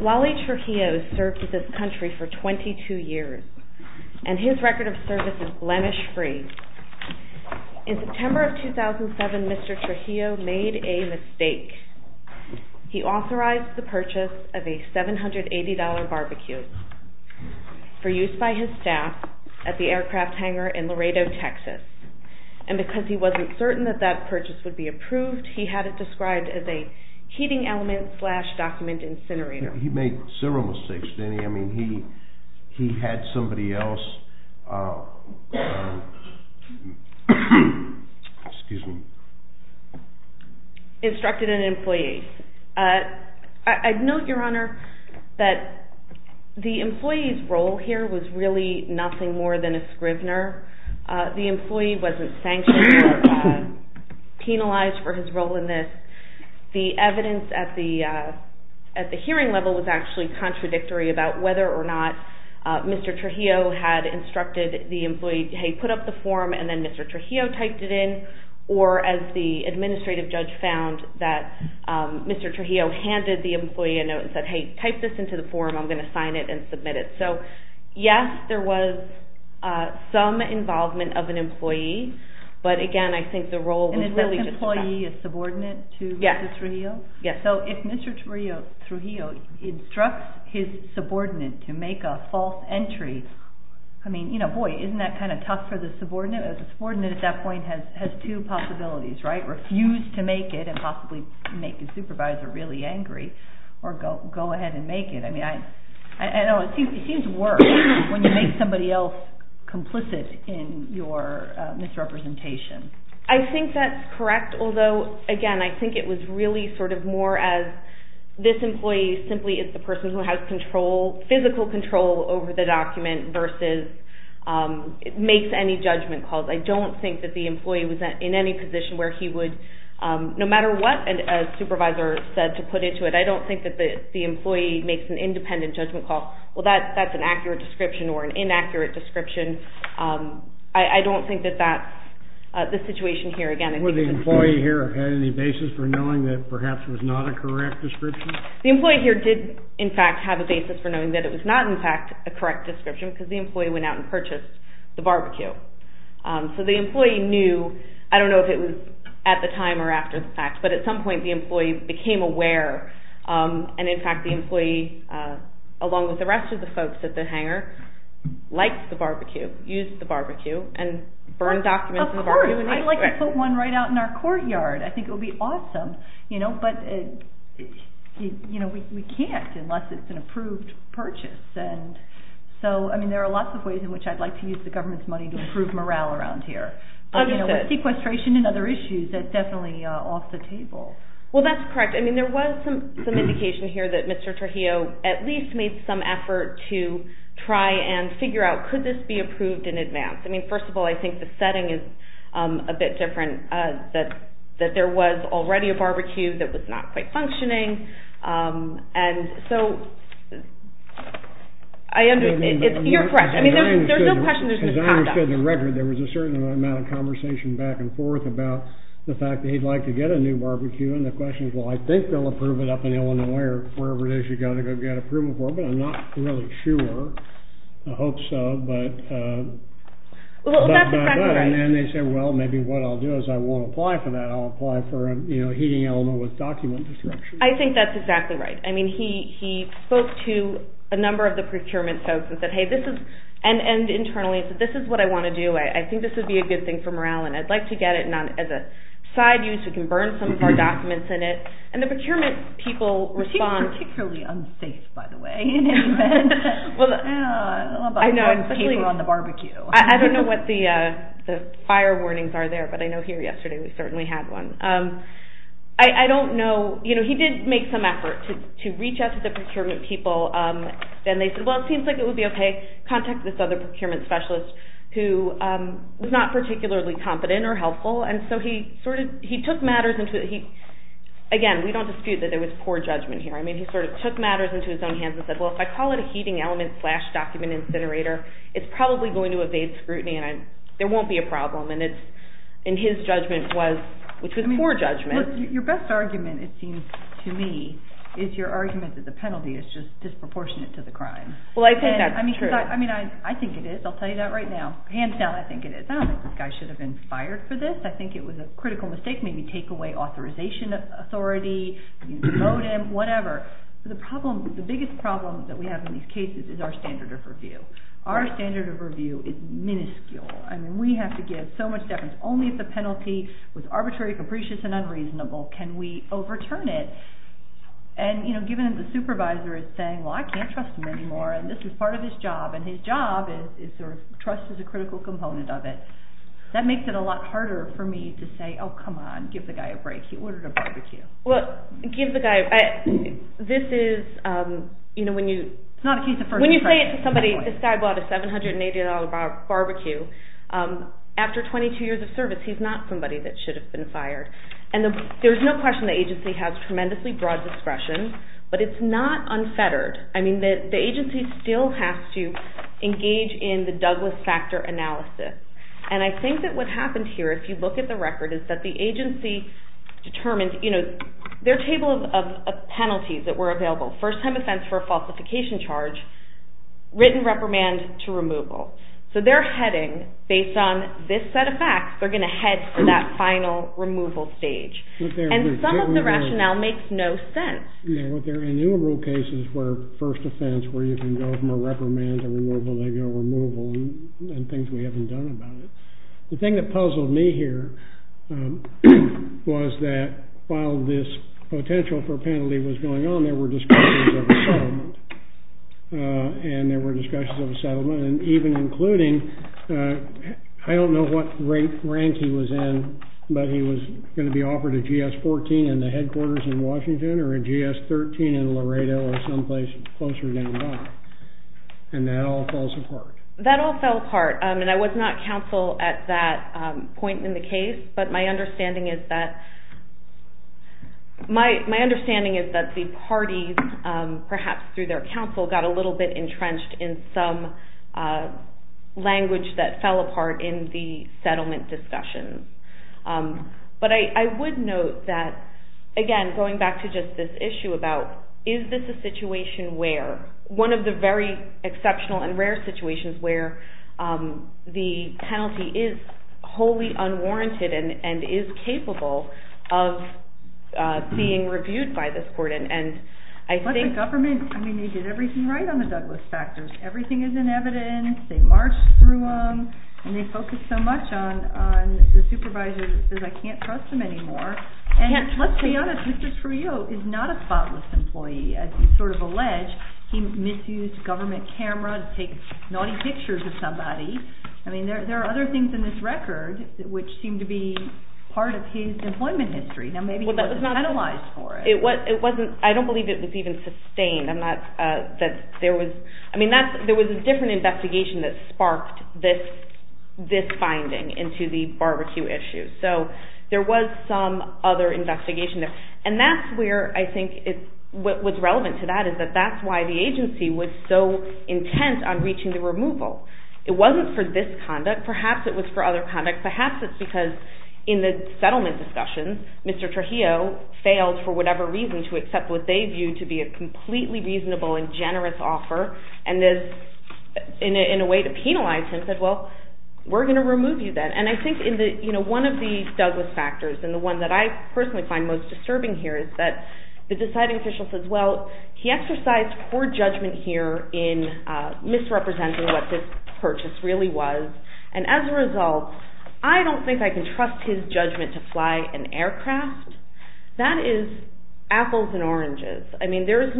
Wally Trujillo served in this country for 22 years, and his record of service is blemish-free. In September of 2007, Mr. Trujillo made a mistake. He authorized the purchase of a $780 barbeque for use by his staff at the aircraft hangar in Laredo, Texas, and because he wasn't a member of the Air Force, he was forced to leave the country. He wasn't certain that that purchase would be approved. He had it described as a heating element-slash-document incinerator. He made several mistakes. He had somebody else instructed an employee. I'd note, Your Honor, that the employee's role here was really nothing more than a scrivener. The employee wasn't sanctioned or penalized for his role in this. The evidence at the hearing level was actually contradictory about whether or not Mr. Trujillo had instructed the employee, hey, put up the form, and then Mr. Trujillo typed it in, or as the administrative judge found, that Mr. Trujillo handed the employee a note and said, hey, type this into the form, I'm going to sign it and submit it. So yes, there was some involvement of an employee, but again, I think the role was really just that. And the role of the employee is subordinate to Mr. Trujillo? Yes. So if Mr. Trujillo instructs his subordinate to make a false entry, I mean, you know, boy, isn't that kind of tough for the subordinate? The subordinate at that point has two possibilities, right? Refuse to make it and possibly make his supervisor really angry, or go ahead and make it. I know it seems worse when you make somebody else complicit in your misrepresentation. I think that's correct, although again, I think it was really sort of more as this employee simply is the person who has physical control over the document versus makes any judgment calls. I don't think that the employee was in any position where he would, no matter what a supervisor said to put into it, I don't think that the employee makes an independent judgment call. Well, that's an accurate description or an inaccurate description. I don't think that that's the situation here. Would the employee here have had any basis for knowing that perhaps it was not a correct description? The employee here did, in fact, have a basis for knowing that it was not, in fact, a correct description because the employee went out and purchased the barbecue. So the employee knew, I don't know if it was at the time or after the fact, but at some point the employee became aware, and in fact the employee, along with the rest of the folks at the hangar, liked the barbecue, used the barbecue, and burned documents in the barbecue. Of course, I'd like to put one right out in our courtyard. I think it would be awesome, but we can't unless it's an approved purchase. There are lots of ways in which I'd like to use the government's money to improve morale around here. Sequestration and other issues, that's definitely off the table. Well, that's correct. There was some indication here that Mr. Trujillo at least made some effort to try and figure out could this be approved in advance. First of all, I think the setting is a bit different, that there was already a barbecue that was not quite functioning. You're correct. I mean, there's no question this was passed up. As I understood the record, there was a certain amount of conversation back and forth about the fact that he'd like to get a new barbecue, and the question is, well, I think they'll approve it up in Illinois or wherever it is you've got to go get approval for it, but I'm not really sure. I hope so. Well, that's a fact of life. And then they say, well, maybe what I'll do is I won't apply for that. I'll apply for a heating element with document destruction. I think that's exactly right. I mean, he spoke to a number of the procurement folks and said, hey, this is, and internally said, this is what I want to do. I think this would be a good thing for morale, and I'd like to get it as a side use. We can burn some of our documents in it, and the procurement people respond. He's particularly unsafe, by the way, in any event. Well, I know. Especially on the barbecue. I don't know what the fire warnings are there, but I know here yesterday we certainly had one. I don't know. You know, he did make some effort to reach out to the procurement people, and they said, well, it seems like it would be okay. Contact this other procurement specialist who was not particularly competent or helpful, and so he sort of, he took matters into, again, we don't dispute that there was poor judgment here. I mean, he sort of took matters into his own hands and said, well, if I call it a heating element slash document incinerator, it's probably going to evade scrutiny, and there won't be a problem. And his judgment was, which was poor judgment. Your best argument, it seems to me, is your argument that the penalty is just disproportionate to the crime. Well, I think that's true. I mean, I think it is. I'll tell you that right now. Hands down, I think it is. I don't think this guy should have been fired for this. I think it was a critical mistake, maybe take away authorization authority, whatever. The problem, the biggest problem that we have in these cases is our standard of review. Our standard of review is minuscule. I mean, we have to give so much deference. Only if the penalty was arbitrary, capricious, and unreasonable can we overturn it. And, you know, given that the supervisor is saying, well, I can't trust him anymore, and this is part of his job, and his job is sort of trust is a critical component of it. That makes it a lot harder for me to say, oh, come on, give the guy a break. He ordered a barbecue. Well, give the guy a break. This is, you know, when you… It's not a case of first impression. When you say it to somebody, this guy bought a $780 barbecue, after 22 years of service, he's not somebody that should have been fired. And there's no question the agency has tremendously broad discretion, but it's not unfettered. I mean, the agency still has to engage in the Douglas factor analysis. And I think that what happened here, if you look at the record, is that the agency determined, you know, their table of penalties that were available, first-time offense for a falsification charge, written reprimand to removal. So they're heading, based on this set of facts, they're going to head for that final removal stage. And some of the rationale makes no sense. Yeah, but there are innumerable cases where first offense, where you can go from a reprimand to removal, they go removal, and things we haven't done about it. The thing that puzzled me here was that while this potential for a penalty was going on, there were discussions of a settlement. And there were discussions of a settlement, and even including, I don't know what rank he was in, but he was going to be offered a GS-14 in the headquarters in Washington or a GS-13 in Laredo or someplace closer than that. And that all falls apart. That all fell apart. And I was not counsel at that point in the case, but my understanding is that the parties, perhaps through their counsel, got a little bit entrenched in some language that fell apart in the settlement discussion. But I would note that, again, going back to just this issue about, is this a situation where? One of the very exceptional and rare situations where the penalty is wholly unwarranted and is capable of being reviewed by this court. But the government, I mean, they did everything right on the Douglas factors. Everything is in evidence. They marched through them, and they focused so much on the supervisor that I can't trust them anymore. And let's be honest, Mr. Trujillo is not a spotless employee. As he sort of alleged, he misused a government camera to take naughty pictures of somebody. I mean, there are other things in this record which seem to be part of his employment history. Now, maybe he wasn't penalized for it. It wasn't. I don't believe it was even sustained. I mean, there was a different investigation that sparked this finding into the barbecue issue. So there was some other investigation there. And that's where I think what was relevant to that is that that's why the agency was so intent on reaching the removal. It wasn't for this conduct. Perhaps it was for other conduct. Perhaps it's because in the settlement discussion, Mr. Trujillo failed for whatever reason to accept what they viewed to be a completely reasonable and generous offer, and in a way to penalize him said, well, we're going to remove you then. And I think one of the Douglas factors and the one that I personally find most disturbing here is that the deciding official says, well, he exercised poor judgment here in misrepresenting what this purchase really was. And as a result, I don't think I can trust his judgment to fly an aircraft. That is apples and oranges. I mean, it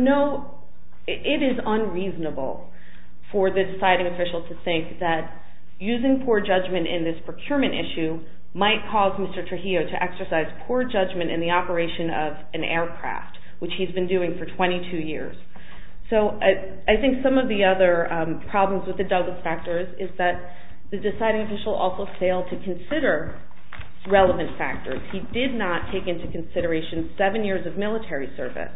is unreasonable for the deciding official to think that using poor judgment in this procurement issue might cause Mr. Trujillo to exercise poor judgment in the operation of an aircraft, which he's been doing for 22 years. So I think some of the other problems with the Douglas factors is that the deciding official also failed to consider relevant factors. He did not take into consideration seven years of military service.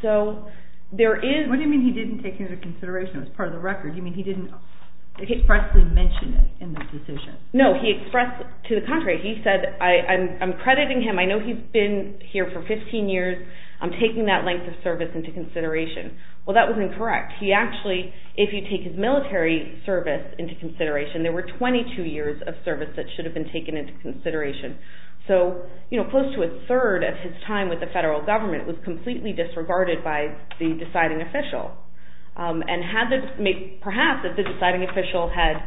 So there is… What do you mean he didn't take into consideration? It was part of the record. You mean he didn't expressly mention it in the decision? No, he expressed to the contrary. He said, I'm crediting him. I know he's been here for 15 years. I'm taking that length of service into consideration. Well, that was incorrect. He actually, if you take his military service into consideration, there were 22 years of service that should have been taken into consideration. So close to a third of his time with the federal government was completely disregarded by the deciding official. And perhaps if the deciding official had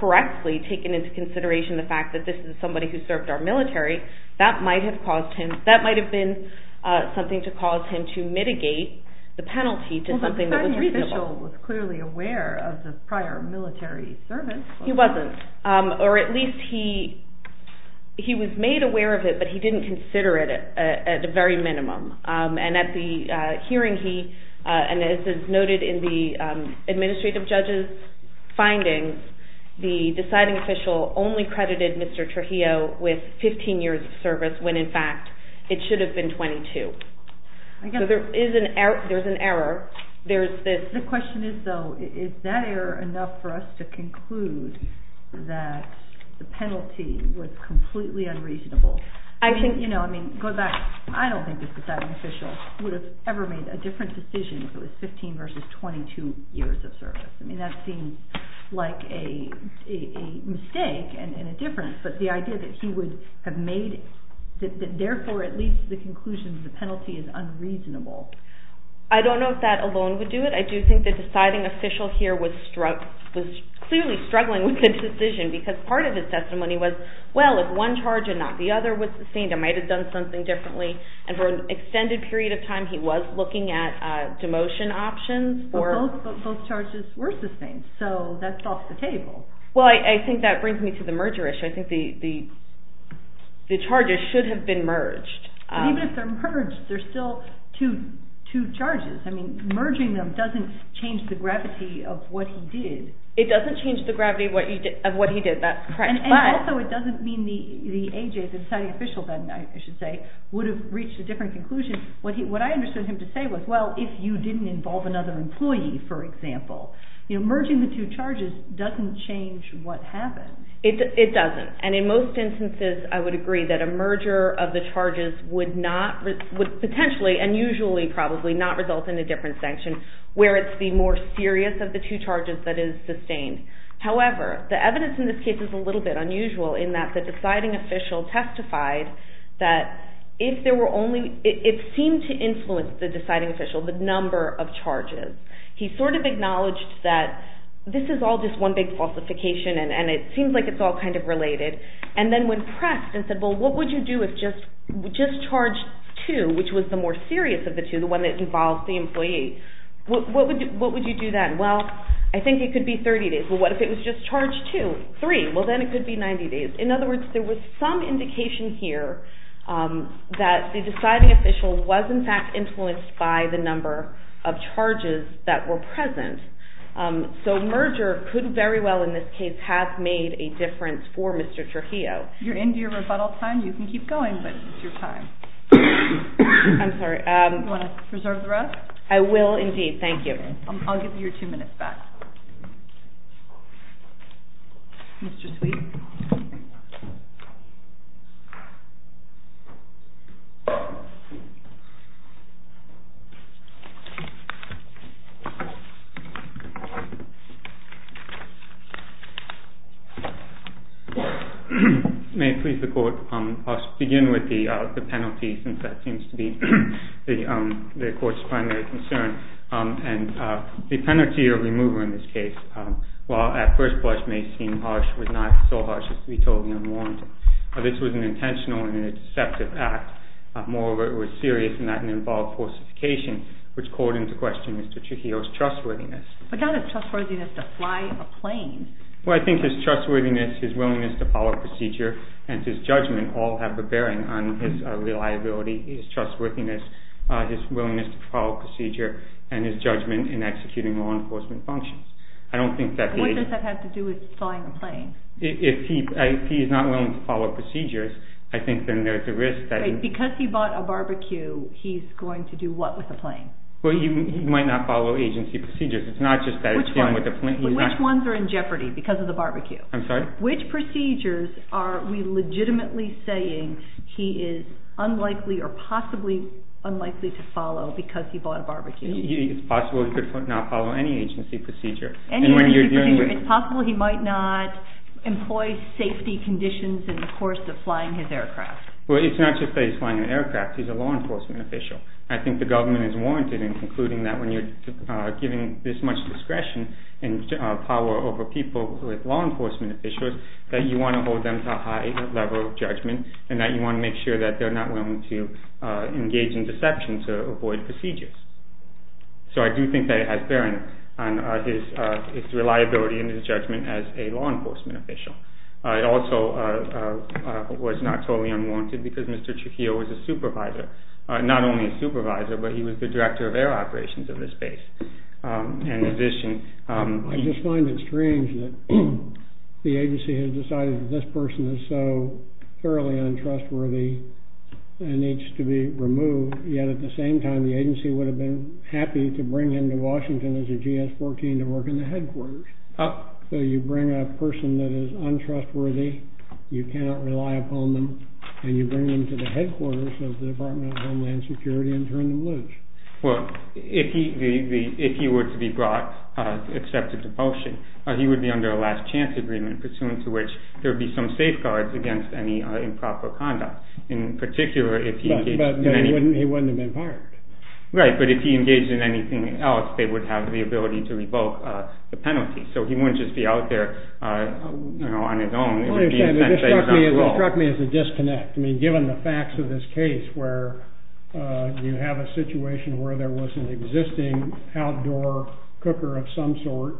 correctly taken into consideration the fact that this is somebody who served our military, that might have been something to cause him to mitigate the penalty to something that was reasonable. The deciding official was clearly aware of the prior military service. He wasn't. Or at least he was made aware of it, but he didn't consider it at the very minimum. And at the hearing he, and this is noted in the administrative judge's findings, the deciding official only credited Mr. Trujillo with 15 years of service when, in fact, it should have been 22. So there is an error. The question is, though, is that error enough for us to conclude that the penalty was completely unreasonable? I think, you know, I mean, go back. I don't think the deciding official would have ever made a different decision if it was 15 versus 22 years of service. I mean, that seems like a mistake and a difference. But the idea that he would have made, therefore, at least the conclusion that the penalty is unreasonable. I don't know if that alone would do it. I do think the deciding official here was clearly struggling with his decision because part of his testimony was, well, if one charge and not the other was sustained, I might have done something differently. And for an extended period of time he was looking at demotion options. But both charges were sustained, so that's off the table. Well, I think that brings me to the merger issue. I think the charges should have been merged. But even if they're merged, they're still two charges. I mean, merging them doesn't change the gravity of what he did. It doesn't change the gravity of what he did. That's correct. And also it doesn't mean the AJ, the deciding official then, I should say, would have reached a different conclusion. What I understood him to say was, well, if you didn't involve another employee, for example. You know, merging the two charges doesn't change what happened. It doesn't. And in most instances I would agree that a merger of the charges would not, would potentially and usually probably not result in a different sanction where it's the more serious of the two charges that is sustained. However, the evidence in this case is a little bit unusual in that the deciding official testified that if there were only, it seemed to influence the deciding official, the number of charges. He sort of acknowledged that this is all just one big falsification and it seems like it's all kind of related. And then when pressed and said, well, what would you do if just charge two, which was the more serious of the two, the one that involved the employee. What would you do then? Well, I think it could be 30 days. Well, what if it was just charge two? Three. Well, then it could be 90 days. In other words, there was some indication here that the deciding official was, in fact, influenced by the number of charges that were present. So merger could very well in this case have made a difference for Mr. Trujillo. You're into your rebuttal time. You can keep going, but it's your time. I'm sorry. Do you want to reserve the rest? I will indeed. Thank you. I'll give you your two minutes back. Mr. Sweet. May it please the Court, I'll begin with the penalty since that seems to be the Court's primary concern. The penalty or remover in this case, while at first blush may seem harsh, was not so harsh as to be totally unwarranted. This was an intentional and a deceptive act. Moreover, it was serious in that it involved forcification, which called into question Mr. Trujillo's trustworthiness. But not his trustworthiness to fly a plane. Well, I think his trustworthiness, his willingness to follow procedure, and his judgment all have a bearing on his reliability, his trustworthiness, his willingness to follow procedure, and his judgment in executing law enforcement functions. I don't think that he... What does that have to do with flying a plane? If he's not willing to follow procedures, I think then there's a risk that... Because he bought a barbecue, he's going to do what with a plane? Well, he might not follow agency procedures. It's not just that he's dealing with a plane. Which ones are in jeopardy because of the barbecue? I'm sorry? Which procedures are we legitimately saying he is unlikely or possibly unlikely to follow because he bought a barbecue? It's possible he could not follow any agency procedure. Any agency procedure. It's possible he might not employ safety conditions in the course of flying his aircraft. Well, it's not just that he's flying an aircraft. He's a law enforcement official. I think the government is warranted in concluding that when you're giving this much discretion and power over people with law enforcement officials, that you want to hold them to a high level of judgment, and that you want to make sure that they're not willing to engage in deception to avoid procedures. So I do think that it has bearing on his reliability and his judgment as a law enforcement official. It also was not totally unwarranted because Mr. Trujillo was a supervisor. Not only a supervisor, but he was the director of air operations of this base. I just find it strange that the agency has decided that this person is so thoroughly untrustworthy and needs to be removed, yet at the same time the agency would have been happy to bring him to Washington as a GS-14 to work in the headquarters. So you bring a person that is untrustworthy, you cannot rely upon them, and you bring them to the headquarters of the Department of Homeland Security and turn them loose. Well, if he were to be brought to accept a depulsion, he would be under a last chance agreement, pursuant to which there would be some safeguards against any improper conduct. But he wouldn't have been fired. Right, but if he engaged in anything else, they would have the ability to revoke the penalty. So he wouldn't just be out there on his own. It struck me as a disconnect. Given the facts of this case, where you have a situation where there was an existing outdoor cooker of some sort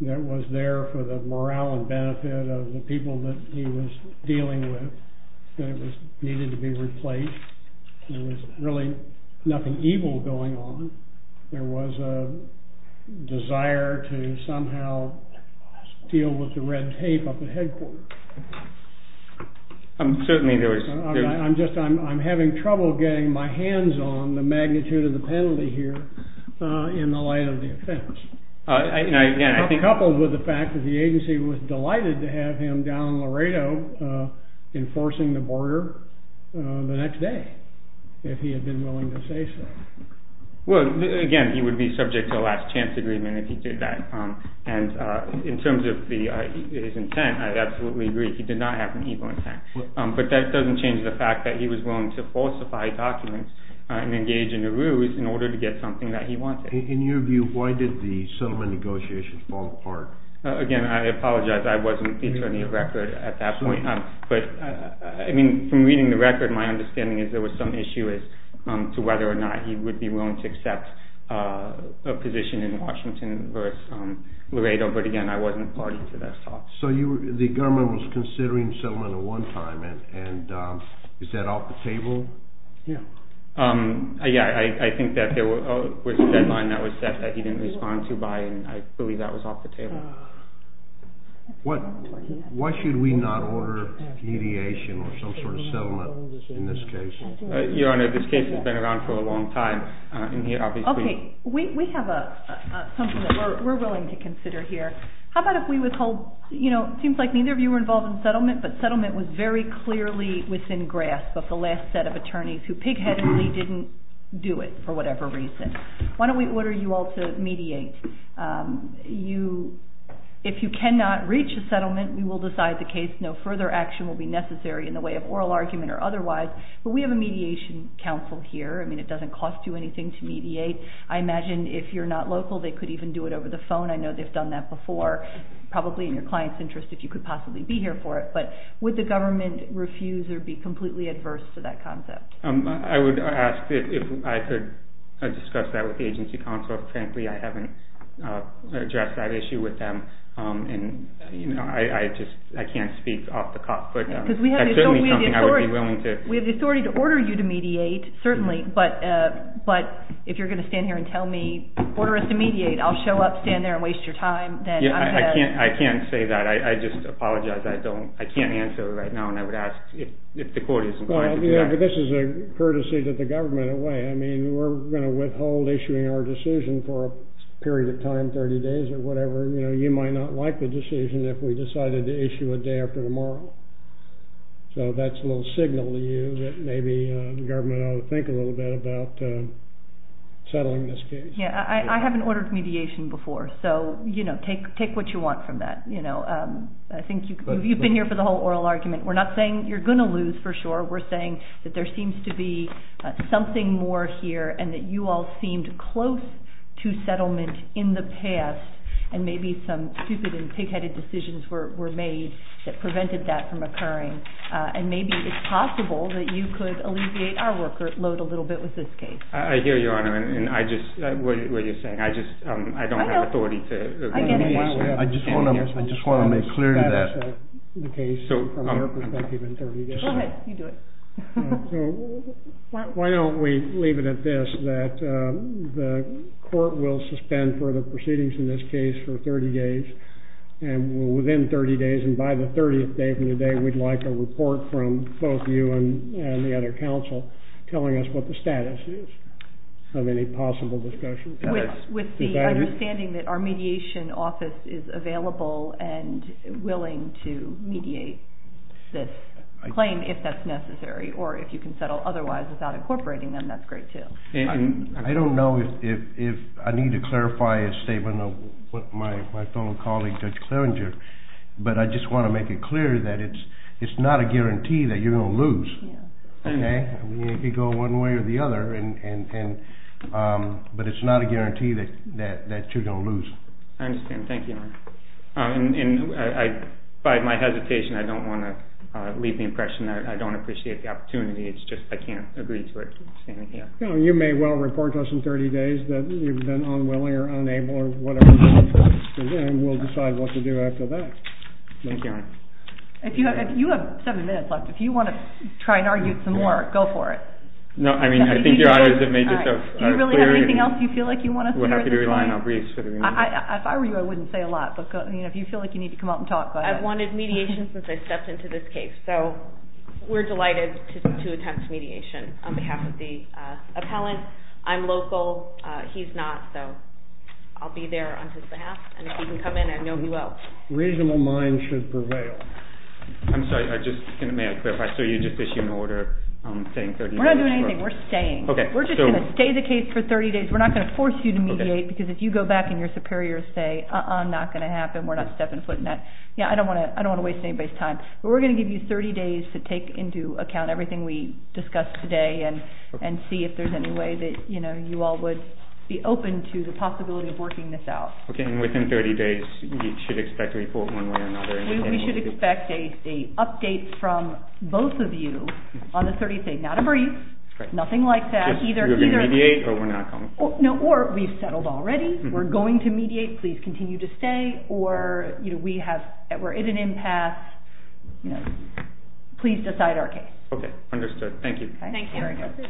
that was there for the morale and benefit of the people that he was dealing with, that it needed to be replaced, there was really nothing evil going on. There was a desire to somehow deal with the red tape up at headquarters. I'm having trouble getting my hands on the magnitude of the penalty here in the light of the offense. Coupled with the fact that the agency was delighted to have him down in Laredo enforcing the border the next day, if he had been willing to say so. Well, again, he would be subject to a last chance agreement if he did that. And in terms of his intent, I absolutely agree, he did not have an evil intent. But that doesn't change the fact that he was willing to falsify documents and engage in a ruse in order to get something that he wanted. In your view, why did the settlement negotiations fall apart? Again, I apologize, I wasn't the attorney of record at that point. I mean, from reading the record, my understanding is there was some issue as to whether or not he would be willing to accept a position in Washington versus Laredo, but again, I wasn't party to that thought. So the government was considering settlement at one time, and is that off the table? Yeah, I think that there was a deadline that was set that he didn't respond to by, and I believe that was off the table. Why should we not order mediation or some sort of settlement in this case? Your Honor, this case has been around for a long time. Okay, we have something that we're willing to consider here. How about if we withhold, you know, it seems like neither of you were involved in settlement, but settlement was very clearly within grasp of the last set of attorneys who pig-headedly didn't do it for whatever reason. Why don't we order you all to mediate? If you cannot reach a settlement, we will decide the case. No further action will be necessary in the way of oral argument or otherwise, but we have a mediation counsel here. I mean, it doesn't cost you anything to mediate. I imagine if you're not local, they could even do it over the phone. I know they've done that before, probably in your client's interest, if you could possibly be here for it, but would the government refuse or be completely adverse to that concept? I would ask if I could discuss that with the agency counsel. Frankly, I haven't addressed that issue with them, and, you know, I just can't speak off the cuff with them. We have the authority to order you to mediate, certainly, but if you're going to stand here and tell me, order us to mediate, I'll show up, stand there, and waste your time. I can't say that. I just apologize. I can't answer right now, and I would ask if the court is inclined to do that. This is a courtesy to the government in a way. I mean, we're going to withhold issuing our decision for a period of time, 30 days or whatever. You know, you might not like the decision if we decided to issue a day after tomorrow. So that's a little signal to you that maybe the government ought to think a little bit about settling this case. Yeah, I haven't ordered mediation before, so, you know, take what you want from that. You know, I think you've been here for the whole oral argument. We're not saying you're going to lose, for sure. We're saying that there seems to be something more here and that you all seemed close to settlement in the past, and maybe some stupid and pig-headed decisions were made that prevented that from occurring. And maybe it's possible that you could alleviate our workload a little bit with this case. I hear you, Your Honor, and I just don't have authority to mediate. I just want to make clear that that is the case from your perspective. Go ahead, you do it. Why don't we leave it at this, that the court will suspend further proceedings in this case for 30 days, and within 30 days, and by the 30th day from today, we'd like a report from both you and the other counsel telling us what the status is of any possible discussion. With the understanding that our mediation office is available and willing to mediate this claim, if that's necessary, or if you can settle otherwise without incorporating them, that's great too. I don't know if I need to clarify a statement of what my fellow colleague, Judge Claringer, but I just want to make it clear that it's not a guarantee that you're going to lose. It could go one way or the other, but it's not a guarantee that you're going to lose. I understand. Thank you, Your Honor. By my hesitation, I don't want to leave the impression that I don't appreciate the opportunity. It's just I can't agree to it standing here. You may well report to us in 30 days that you've been unwilling or unable or whatever it is, and we'll decide what to do after that. Thank you, Your Honor. You have seven minutes left. If you want to try and argue some more, go for it. No, I mean, I think Your Honor has made yourself clear. Do you really have anything else you feel like you want to say? If I were you, I wouldn't say a lot, but if you feel like you need to come out and talk, go ahead. I've wanted mediation since I stepped into this case, so we're delighted to attempt mediation on behalf of the appellant. I'm local. He's not, so I'll be there on his behalf, and if he can come in, I know he will. A reasonable mind should prevail. I'm sorry. May I clarify? So you just issued an order saying 30 days? We're not doing anything. We're staying. We're just going to stay the case for 30 days. We're not going to force you to mediate, because if you go back and your superiors say, uh-uh, not going to happen, we're not stepping foot in that, I don't want to waste anybody's time, but we're going to give you 30 days to take into account everything we discussed today and see if there's any way that you all would be open to the possibility of working this out. Okay, and within 30 days, you should expect a report one way or another? We should expect an update from both of you on the 30th day. Not a brief, nothing like that. You're going to mediate or we're not going to mediate? No, or we've settled already, we're going to mediate, please continue to stay, or we're at an impasse, please decide our case. Okay, understood. Thank you. Thank you.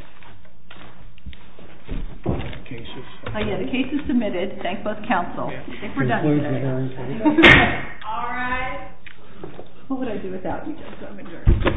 The case is submitted. Thank both counsel. I think we're done here. All right. What would I do without you guys?